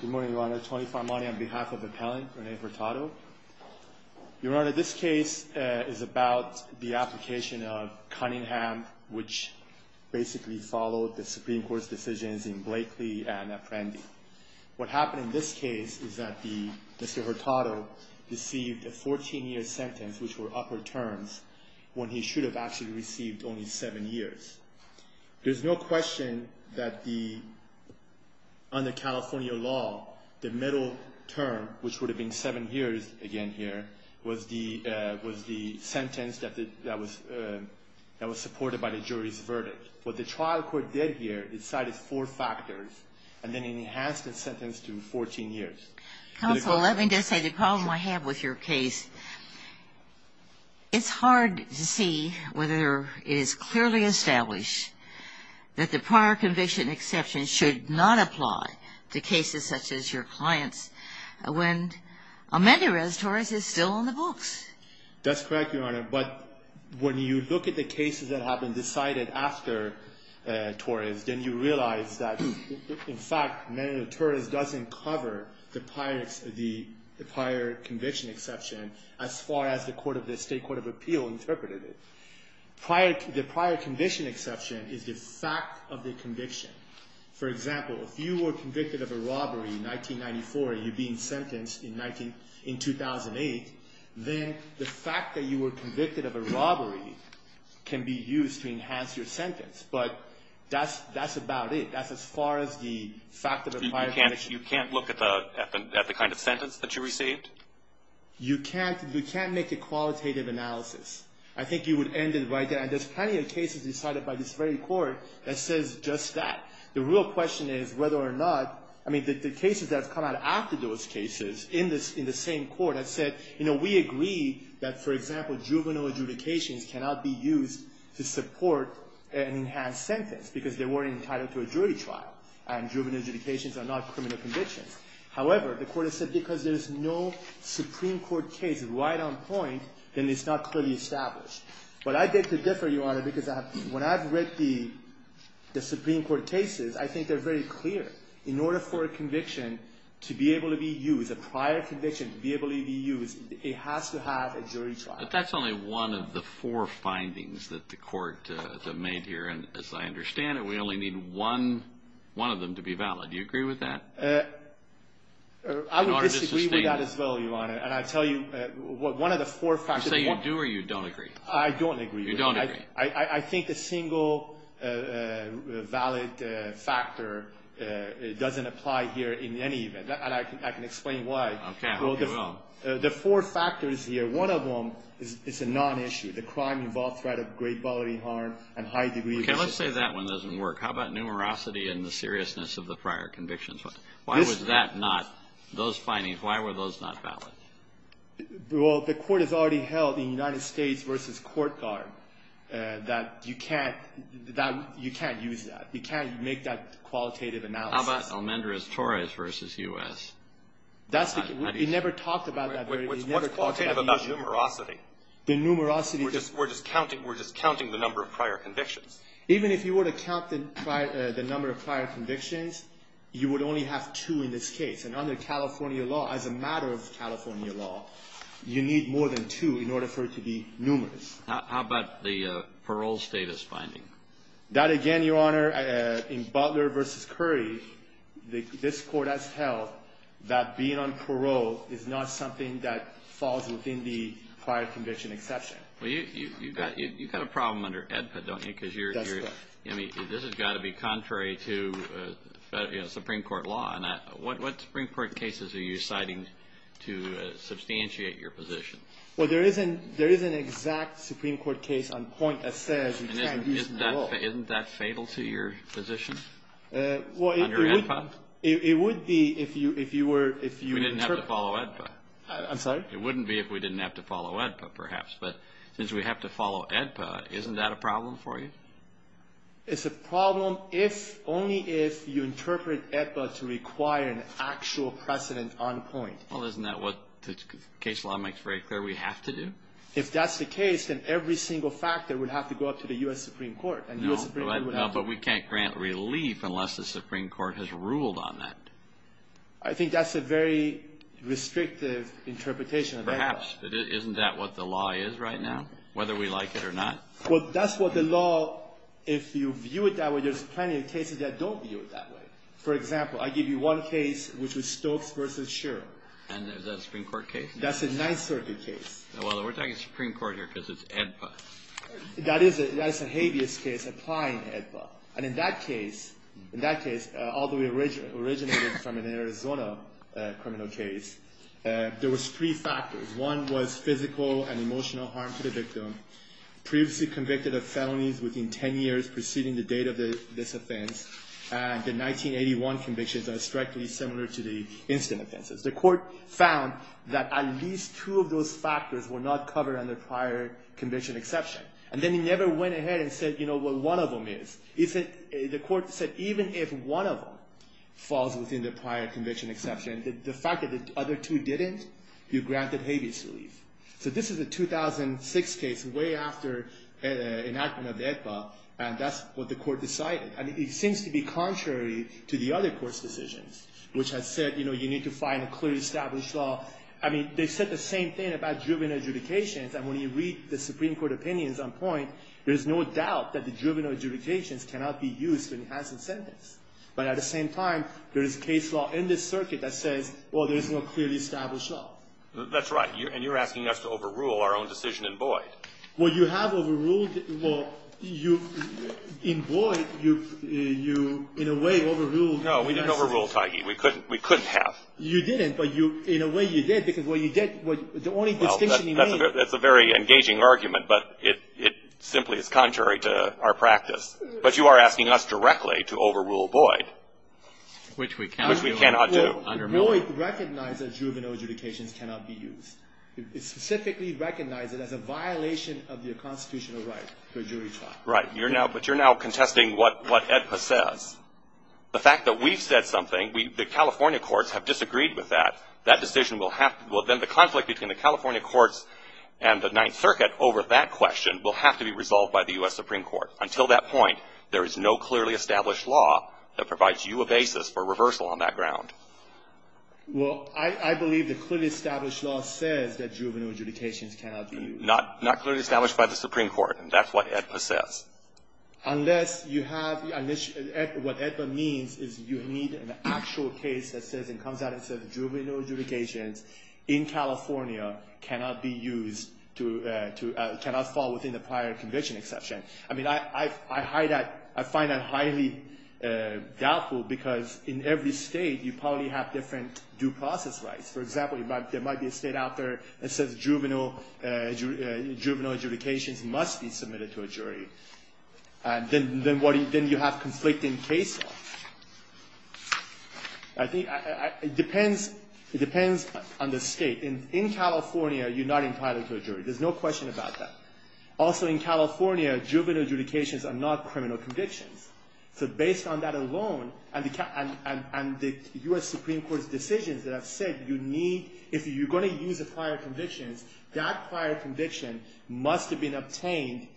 Good morning, Your Honor. Tony Farmani on behalf of the appellant, Rennie Hurtado. Your Honor, this case is about the application of Cunningham, which basically followed the Supreme Court's decisions in Blakely and Apprendi. What happened in this case is that Mr. Hurtado received a 14-year sentence, which were upper terms, when he should have actually received only seven years. There's no question that on the California law, the middle term, which would have been seven years again here, was the sentence that was supported by the jury's verdict. What the trial court did here, decided four factors, and then enhanced the sentence to 14 years. Counsel, let me just say the problem I have with your case, it's hard to see whether it is clearly established that the prior conviction exception should not apply to cases such as your client's, when amended res torres is still in the books. That's correct, Your Honor. But when you look at the cases that have been decided after torres, then you realize that, in fact, amended res torres doesn't cover the prior conviction exception as far as the State Court of Appeal interpreted it. The prior conviction exception is the fact of the conviction. For example, if you were convicted of a robbery in 1994 and you're being sentenced in 2008, then the fact that you were convicted of a robbery can be used to enhance your sentence. But that's about it. That's as far as the fact of the prior conviction. You can't look at the kind of sentence that you received? You can't make a qualitative analysis. I think you would end it right there. And there's plenty of cases decided by this very court that says just that. The real question is whether or not, I mean, the cases that have come out after those cases in the same court that said, you know, we agree that, for example, juvenile adjudications cannot be used to support an enhanced sentence because they weren't entitled to a jury trial, and juvenile adjudications are not criminal convictions. However, the court has said because there's no Supreme Court case right on point, then it's not clearly established. But I beg to differ, Your Honor, because when I've read the Supreme Court cases, I think they're very clear. In order for a conviction to be able to be used, a prior conviction to be able to be used, it has to have a jury trial. But that's only one of the four findings that the court made here. And as I understand it, we only need one of them to be valid. Do you agree with that? I would disagree with that as well, Your Honor. And I tell you, one of the four factors. You say you do or you don't agree? I don't agree. You don't agree. I think a single valid factor doesn't apply here in any event. And I can explain why. Okay, I hope you will. The four factors here, one of them is a non-issue. The crime involved threat of great bodily harm and high degree of necessity. Okay, let's say that one doesn't work. How about numerosity and the seriousness of the prior convictions? Why was that not, those findings, why were those not valid? Well, the court has already held in United States v. Court Guard that you can't use that. You can't make that qualitative analysis. How about Almendrez-Torres v. U.S.? We never talked about that. What's qualitative about numerosity? The numerosity. We're just counting the number of prior convictions. Even if you were to count the number of prior convictions, you would only have two in this case. And under California law, as a matter of California law, you need more than two in order for it to be numerous. How about the parole status finding? That again, Your Honor, in Butler v. Curry, this court has held that being on parole is not something that falls within the prior conviction exception. Well, you've got a problem under AEDPA, don't you? That's correct. I mean, this has got to be contrary to, you know, Supreme Court law. And what Supreme Court cases are you citing to substantiate your position? Well, there is an exact Supreme Court case on point that says you can't use parole. Isn't that fatal to your position under AEDPA? Well, it would be if you were – We didn't have to follow AEDPA. I'm sorry? It wouldn't be if we didn't have to follow AEDPA, perhaps. But since we have to follow AEDPA, isn't that a problem for you? It's a problem only if you interpret AEDPA to require an actual precedent on point. Well, isn't that what the case law makes very clear we have to do? If that's the case, then every single factor would have to go up to the U.S. Supreme Court. No, but we can't grant relief unless the Supreme Court has ruled on that. I think that's a very restrictive interpretation of AEDPA. Perhaps, but isn't that what the law is right now, whether we like it or not? Well, that's what the law – if you view it that way, there's plenty of cases that don't view it that way. For example, I give you one case, which was Stokes v. Sherrill. And is that a Supreme Court case? That's a Ninth Circuit case. Well, we're talking Supreme Court here because it's AEDPA. That is a habeas case, applying AEDPA. And in that case, although it originated from an Arizona criminal case, there was three factors. One was physical and emotional harm to the victim, previously convicted of felonies within 10 years preceding the date of this offense. And the 1981 convictions are strictly similar to the instant offenses. The court found that at least two of those factors were not covered under prior conviction exception. And then it never went ahead and said, you know, what one of them is. The court said even if one of them falls within the prior conviction exception, the fact that the other two didn't, you're granted habeas relief. So this is a 2006 case, way after enactment of AEDPA, and that's what the court decided. And it seems to be contrary to the other court's decisions, which has said, you know, you need to find a clearly established law. I mean, they said the same thing about driven adjudications. And when you read the Supreme Court opinions on point, there's no doubt that the driven adjudications cannot be used when it has incentives. But at the same time, there is case law in this circuit that says, well, there's no clearly established law. That's right. And you're asking us to overrule our own decision in void. Well, you have overruled. Well, in void, you in a way overruled. No, we didn't overrule, Taigi. We couldn't have. You didn't, but in a way you did, because what you did, the only distinction you made. That's a very engaging argument, but it simply is contrary to our practice. But you are asking us directly to overrule void. Which we cannot do. Which we cannot do. Well, void recognizes driven adjudications cannot be used. It specifically recognizes it as a violation of your constitutional right to a jury trial. Right. But you're now contesting what AEDPA says. The fact that we've said something, the California courts have disagreed with that. That decision will have to go. Then the conflict between the California courts and the Ninth Circuit over that question will have to be resolved by the U.S. Supreme Court. Until that point, there is no clearly established law that provides you a basis for reversal on that ground. Well, I believe the clearly established law says that juvenile adjudications cannot be used. Not clearly established by the Supreme Court, and that's what AEDPA says. Unless you have, what AEDPA means is you need an actual case that comes out and says juvenile adjudications in California cannot be used, cannot fall within the prior conviction exception. I mean, I find that highly doubtful because in every state you probably have different due process rights. For example, there might be a state out there that says juvenile adjudications must be submitted to a jury. Then you have conflicting case law. It depends on the state. In California, you're not entitled to a jury. There's no question about that. Also in California, juvenile adjudications are not criminal convictions. So based on that alone and the U.S. Supreme Court's decisions that have said you need, if you're going to use the prior convictions, that prior conviction must have been obtained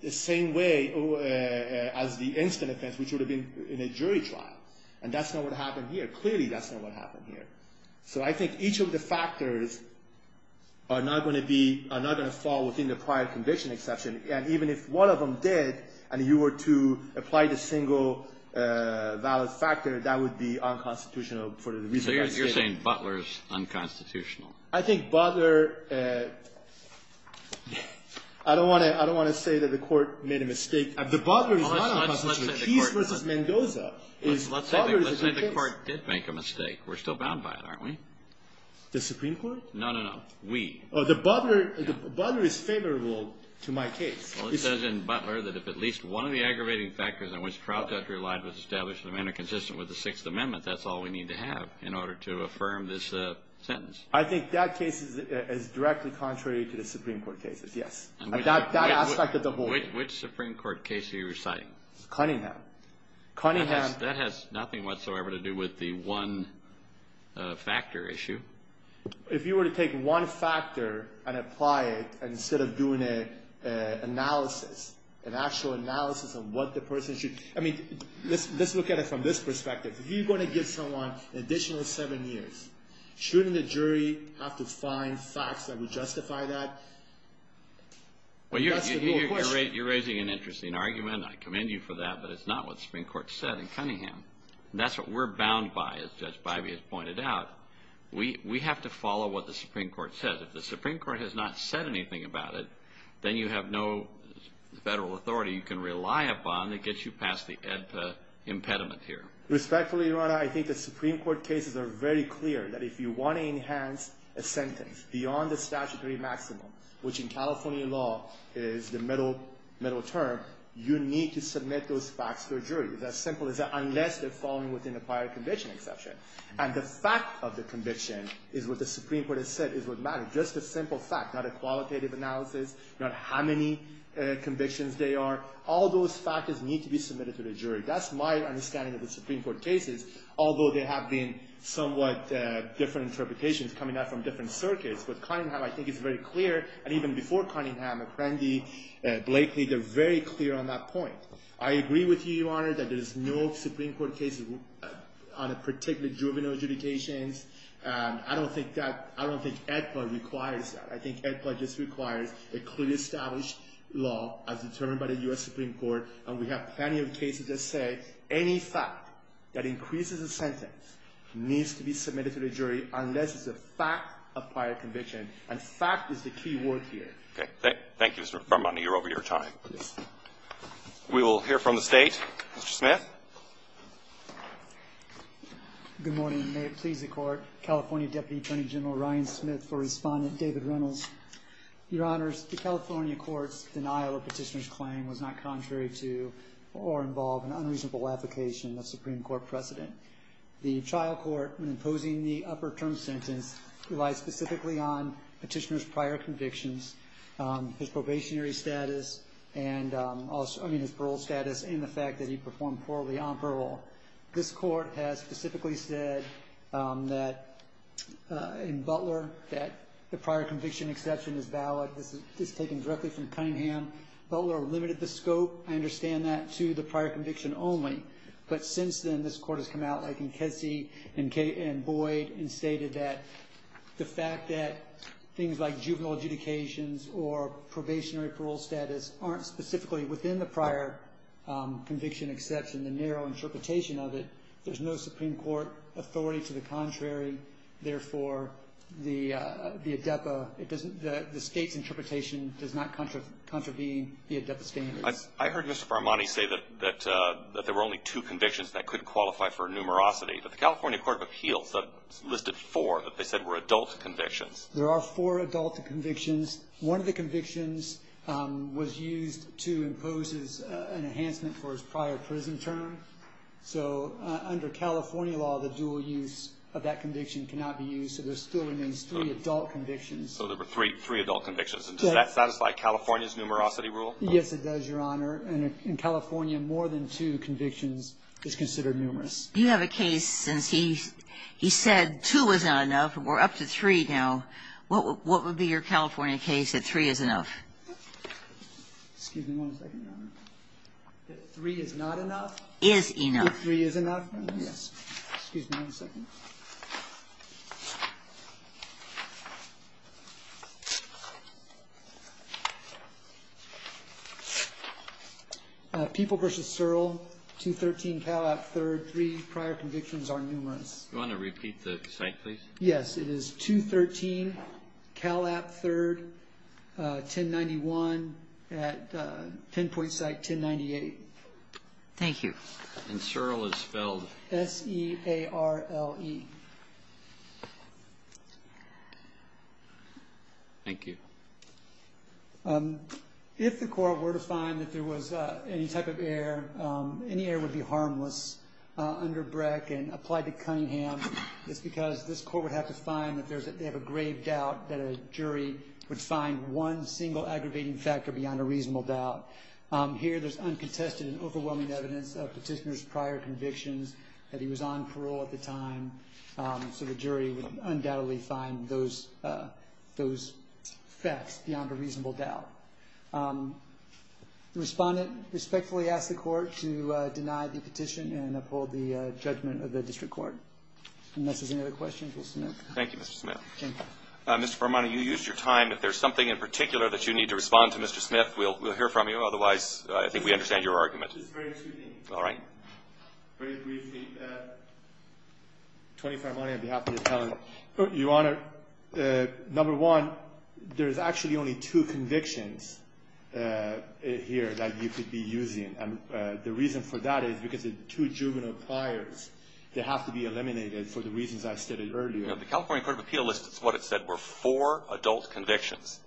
the same way as the instant offense, which would have been in a jury trial. And that's not what happened here. Clearly that's not what happened here. So I think each of the factors are not going to be, are not going to fall within the prior conviction exception. And even if one of them did and you were to apply the single valid factor, that would be unconstitutional for the reason I stated. You're saying Butler's unconstitutional. I think Butler, I don't want to say that the Court made a mistake. The Butler is not unconstitutional. Let's say the Court did make a mistake. We're still bound by it, aren't we? The Supreme Court? No, no, no. We. The Butler is favorable to my case. Well, it says in Butler that if at least one of the aggravating factors on which trial judge relied was established in a manner consistent with the Sixth Amendment, that's all we need to have in order to affirm this sentence. I think that case is directly contrary to the Supreme Court cases, yes. That aspect of the whole. Which Supreme Court case are you reciting? Cunningham. Cunningham. That has nothing whatsoever to do with the one factor issue. If you were to take one factor and apply it instead of doing an analysis, an actual analysis of what the person should, I mean, let's look at it from this perspective. If you're going to give someone an additional seven years, shouldn't the jury have to find facts that would justify that? Well, you're raising an interesting argument. I commend you for that, but it's not what the Supreme Court said in Cunningham. That's what we're bound by, as Judge Bybee has pointed out. We have to follow what the Supreme Court says. If the Supreme Court has not said anything about it, then you have no federal authority you can rely upon to get you past the impediment here. Respectfully, Your Honor, I think the Supreme Court cases are very clear that if you want to enhance a sentence beyond the statutory maximum, which in California law is the middle term, you need to submit those facts to a jury. It's as simple as that, unless they're falling within a prior conviction exception. And the fact of the conviction is what the Supreme Court has said is what matters. It's just a simple fact, not a qualitative analysis, not how many convictions there are. All those factors need to be submitted to the jury. That's my understanding of the Supreme Court cases, although there have been somewhat different interpretations coming out from different circuits. But Cunningham, I think, is very clear, and even before Cunningham, McCrandie, Blakely, they're very clear on that point. I agree with you, Your Honor, that there's no Supreme Court case on a particular juvenile adjudication. I don't think that EDPA requires that. I think EDPA just requires a clearly established law as determined by the U.S. Supreme Court, and we have plenty of cases that say any fact that increases a sentence needs to be submitted to the jury unless it's a fact of prior conviction, and fact is the key word here. Okay. Thank you, Mr. Farmani. You're over your time. Yes. We will hear from the State. Mr. Smith. Good morning. May it please the Court. California Deputy Attorney General Ryan Smith for Respondent David Reynolds. Your Honors, the California court's denial of petitioner's claim was not contrary to or involve an unreasonable application of Supreme Court precedent. The trial court, when imposing the upper term sentence, relied specifically on petitioner's prior convictions, his probationary status, I mean his parole status, and the fact that he performed poorly on parole. This court has specifically said in Butler that the prior conviction exception is valid. This is taken directly from Cunningham. Butler limited the scope, I understand that, to the prior conviction only. But since then, this court has come out, like in Kesey and Boyd, and stated that the fact that things like juvenile adjudications or probationary parole status aren't specifically within the prior conviction exception, the narrow interpretation of it, there's no Supreme Court authority to the contrary. Therefore, the ADEPA, the State's interpretation does not contravene the ADEPA standards. I heard Mr. Farmani say that there were only two convictions that could qualify for a numerosity. But the California Court of Appeals listed four that they said were adult convictions. There are four adult convictions. One of the convictions was used to impose an enhancement for his prior prison term. So under California law, the dual use of that conviction cannot be used. So there still remains three adult convictions. So there were three adult convictions. And does that satisfy California's numerosity rule? Yes, it does, Your Honor. And in California, more than two convictions is considered numerous. You have a case since he said two is not enough. We're up to three now. What would be your California case that three is enough? Excuse me one second, Your Honor. That three is not enough? Is enough. That three is enough? Yes. Excuse me one second. People v. Searle, 213 Calap III, three prior convictions are numerous. Do you want to repeat the site, please? Yes. It is 213 Calap III, 1091 at pinpoint site 1098. Thank you. And Searle is spelled? S-E-A-R-L-E. Thank you. If the court were to find that there was any type of error, any error would be harmless under Breck and applied to Cunningham. It's because this court would have to find that they have a grave doubt that a jury would find one single aggravating factor beyond a reasonable doubt. Here there's uncontested and overwhelming evidence of Petitioner's prior convictions, that he was on parole at the time, so the jury would undoubtedly find those facts beyond a reasonable doubt. The respondent respectfully asks the court to deny the petition and uphold the judgment of the district court. Unless there's any other questions, we'll submit. Thank you, Mr. Smith. Mr. Fermante, you used your time. If there's something in particular that you need to respond to, Mr. Smith, we'll hear from you. Otherwise, I think we understand your argument. All right. Very briefly. Tony Fermante, on behalf of the appellant. Your Honor, number one, there's actually only two convictions here that you could be using. And the reason for that is because the two juvenile pliars, they have to be eliminated for the reasons I stated earlier. The California Court of Appeals, it's what it said, were four adult convictions.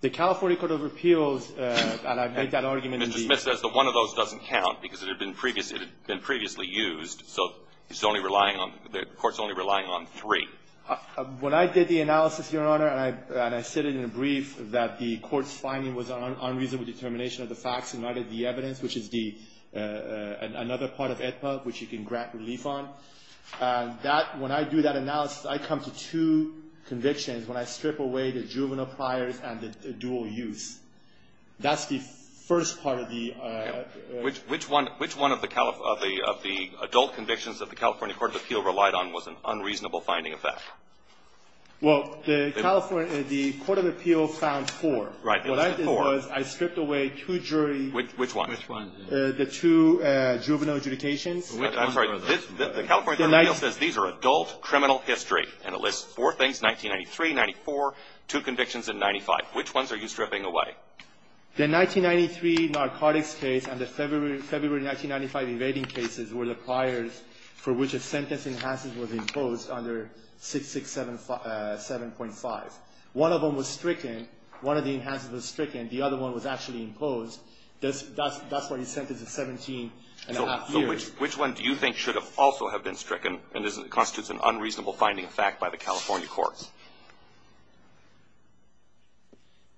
The California Court of Appeals, and I've made that argument. Mr. Smith says that one of those doesn't count because it had been previously used, so the Court's only relying on three. When I did the analysis, Your Honor, and I said it in a brief, that the Court's finding was an unreasonable determination of the facts and not of the evidence, which is another part of AEDPA which you can grant relief on. When I do that analysis, I come to two convictions when I strip away the juvenile pliars and the dual use. That's the first part of the ---- Which one of the adult convictions that the California Court of Appeals relied on was an unreasonable finding of facts? Well, the Court of Appeals found four. Right. What I did was I stripped away two jury ---- Which one? Which one? The two juvenile adjudications. I'm sorry. The California Court of Appeals says these are adult criminal history, and it lists four things, 1993, 1994, two convictions in 1995. Which ones are you stripping away? The 1993 narcotics case and the February 1995 evading cases were the pliars for which a sentence in Hansen was imposed under 667.5. One of them was stricken. One of the enhances was stricken. The other one was actually imposed. That's why the sentence is 17 and a half years. So which one do you think should have also have been stricken and constitutes an unreasonable finding of fact by the California courts?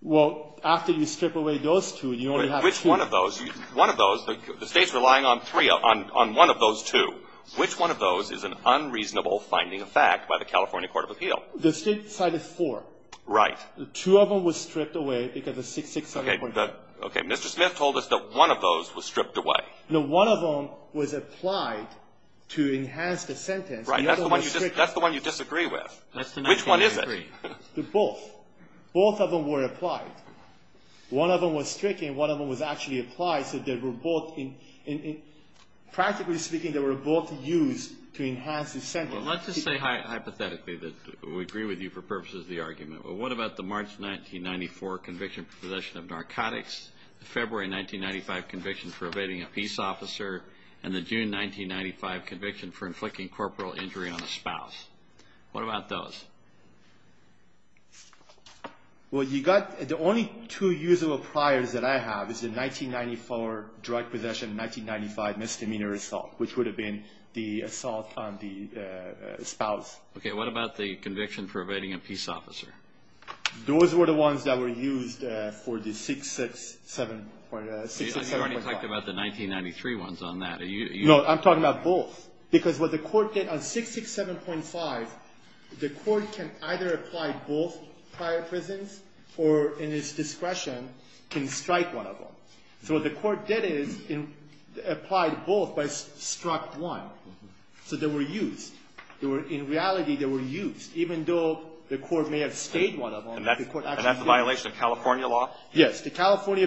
Well, after you strip away those two, you only have two. Which one of those? One of those. The State's relying on three, on one of those two. Which one of those is an unreasonable finding of fact by the California Court of Appeals? The State cited four. Right. Two of them was stripped away because of 667.5. Okay. Mr. Smith told us that one of those was stripped away. No. One of them was applied to enhance the sentence. Right. That's the one you disagree with. Which one is it? They're both. Both of them were applied. One of them was stricken. One of them was actually applied so they were both in practically speaking they were both used to enhance the sentence. Well, let's just say hypothetically that we agree with you for purposes of the argument. Well, what about the March 1994 conviction for possession of narcotics, the February 1995 conviction for evading a peace officer, and the June 1995 conviction for inflicting corporal injury on a spouse? What about those? Well, you got the only two usable priors that I have is the 1994 drug possession, 1995 misdemeanor assault, which would have been the assault on the spouse. Okay. What about the conviction for evading a peace officer? Those were the ones that were used for the 667.5. You already talked about the 1993 ones on that. No. I'm talking about both. Because what the Court did on 667.5, the Court can either apply both prior prisons or in its discretion can strike one of them. So what the Court did is applied both but struck one. So they were used. In reality, they were used even though the Court may have stayed one of them. And that's a violation of California law? Yes. The California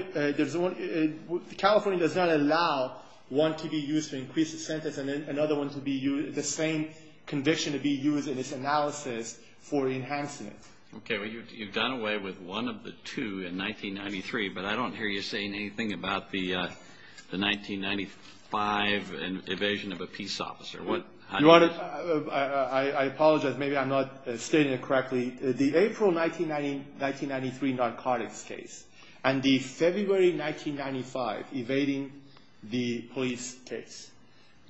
does not allow one to be used to increase the sentence and another one to be used, the same conviction to be used in its analysis for enhancing it. Okay. Well, you've gone away with one of the two in 1993. But I don't hear you saying anything about the 1995 evasion of a peace officer. I apologize. Maybe I'm not stating it correctly. The April 1993 narcotics case and the February 1995 evading the police case,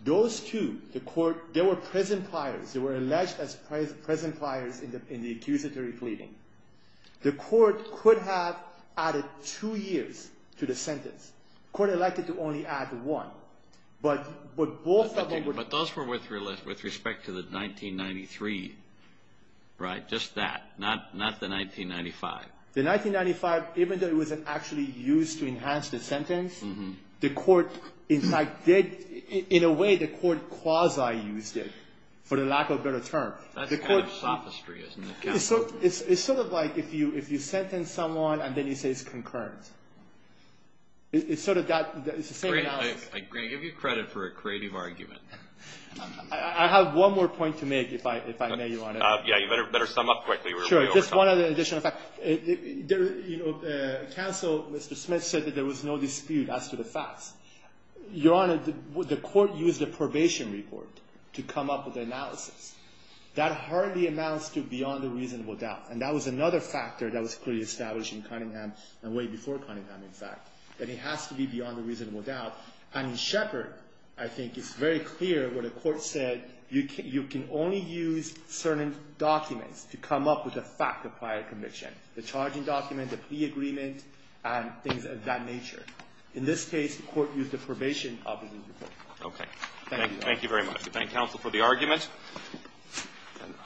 those two, the Court, they were present priors. They were alleged as present priors in the accusatory pleading. The Court could have added two years to the sentence. The Court elected to only add one. But both of them were. But those were with respect to the 1993, right, just that, not the 1995. The 1995, even though it wasn't actually used to enhance the sentence, the in a way, the Court quasi-used it, for the lack of a better term. That's kind of sophistry, isn't it, Counsel? It's sort of like if you sentence someone and then you say it's concurrent. It's sort of that. It's the same analysis. Great. I give you credit for a creative argument. I have one more point to make, if I may, Your Honor. Yeah. You better sum up quickly. Sure. Just one additional fact. Counsel, Mr. Smith, said that there was no dispute as to the facts. Your Honor, the Court used a probation report to come up with the analysis. That hardly amounts to beyond a reasonable doubt. And that was another factor that was clearly established in Cunningham, and way before Cunningham, in fact, that it has to be beyond a reasonable doubt. And in Shepard, I think it's very clear what the Court said. You can only use certain documents to come up with a fact of prior conviction, the charging document, the plea agreement, and things of that nature. In this case, the Court used a probation opposite report. Okay. Thank you, Your Honor. Thank you very much. I thank counsel for the argument.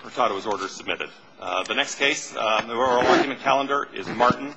Mercado's order is submitted. The next case on the oral argument calendar is Martin.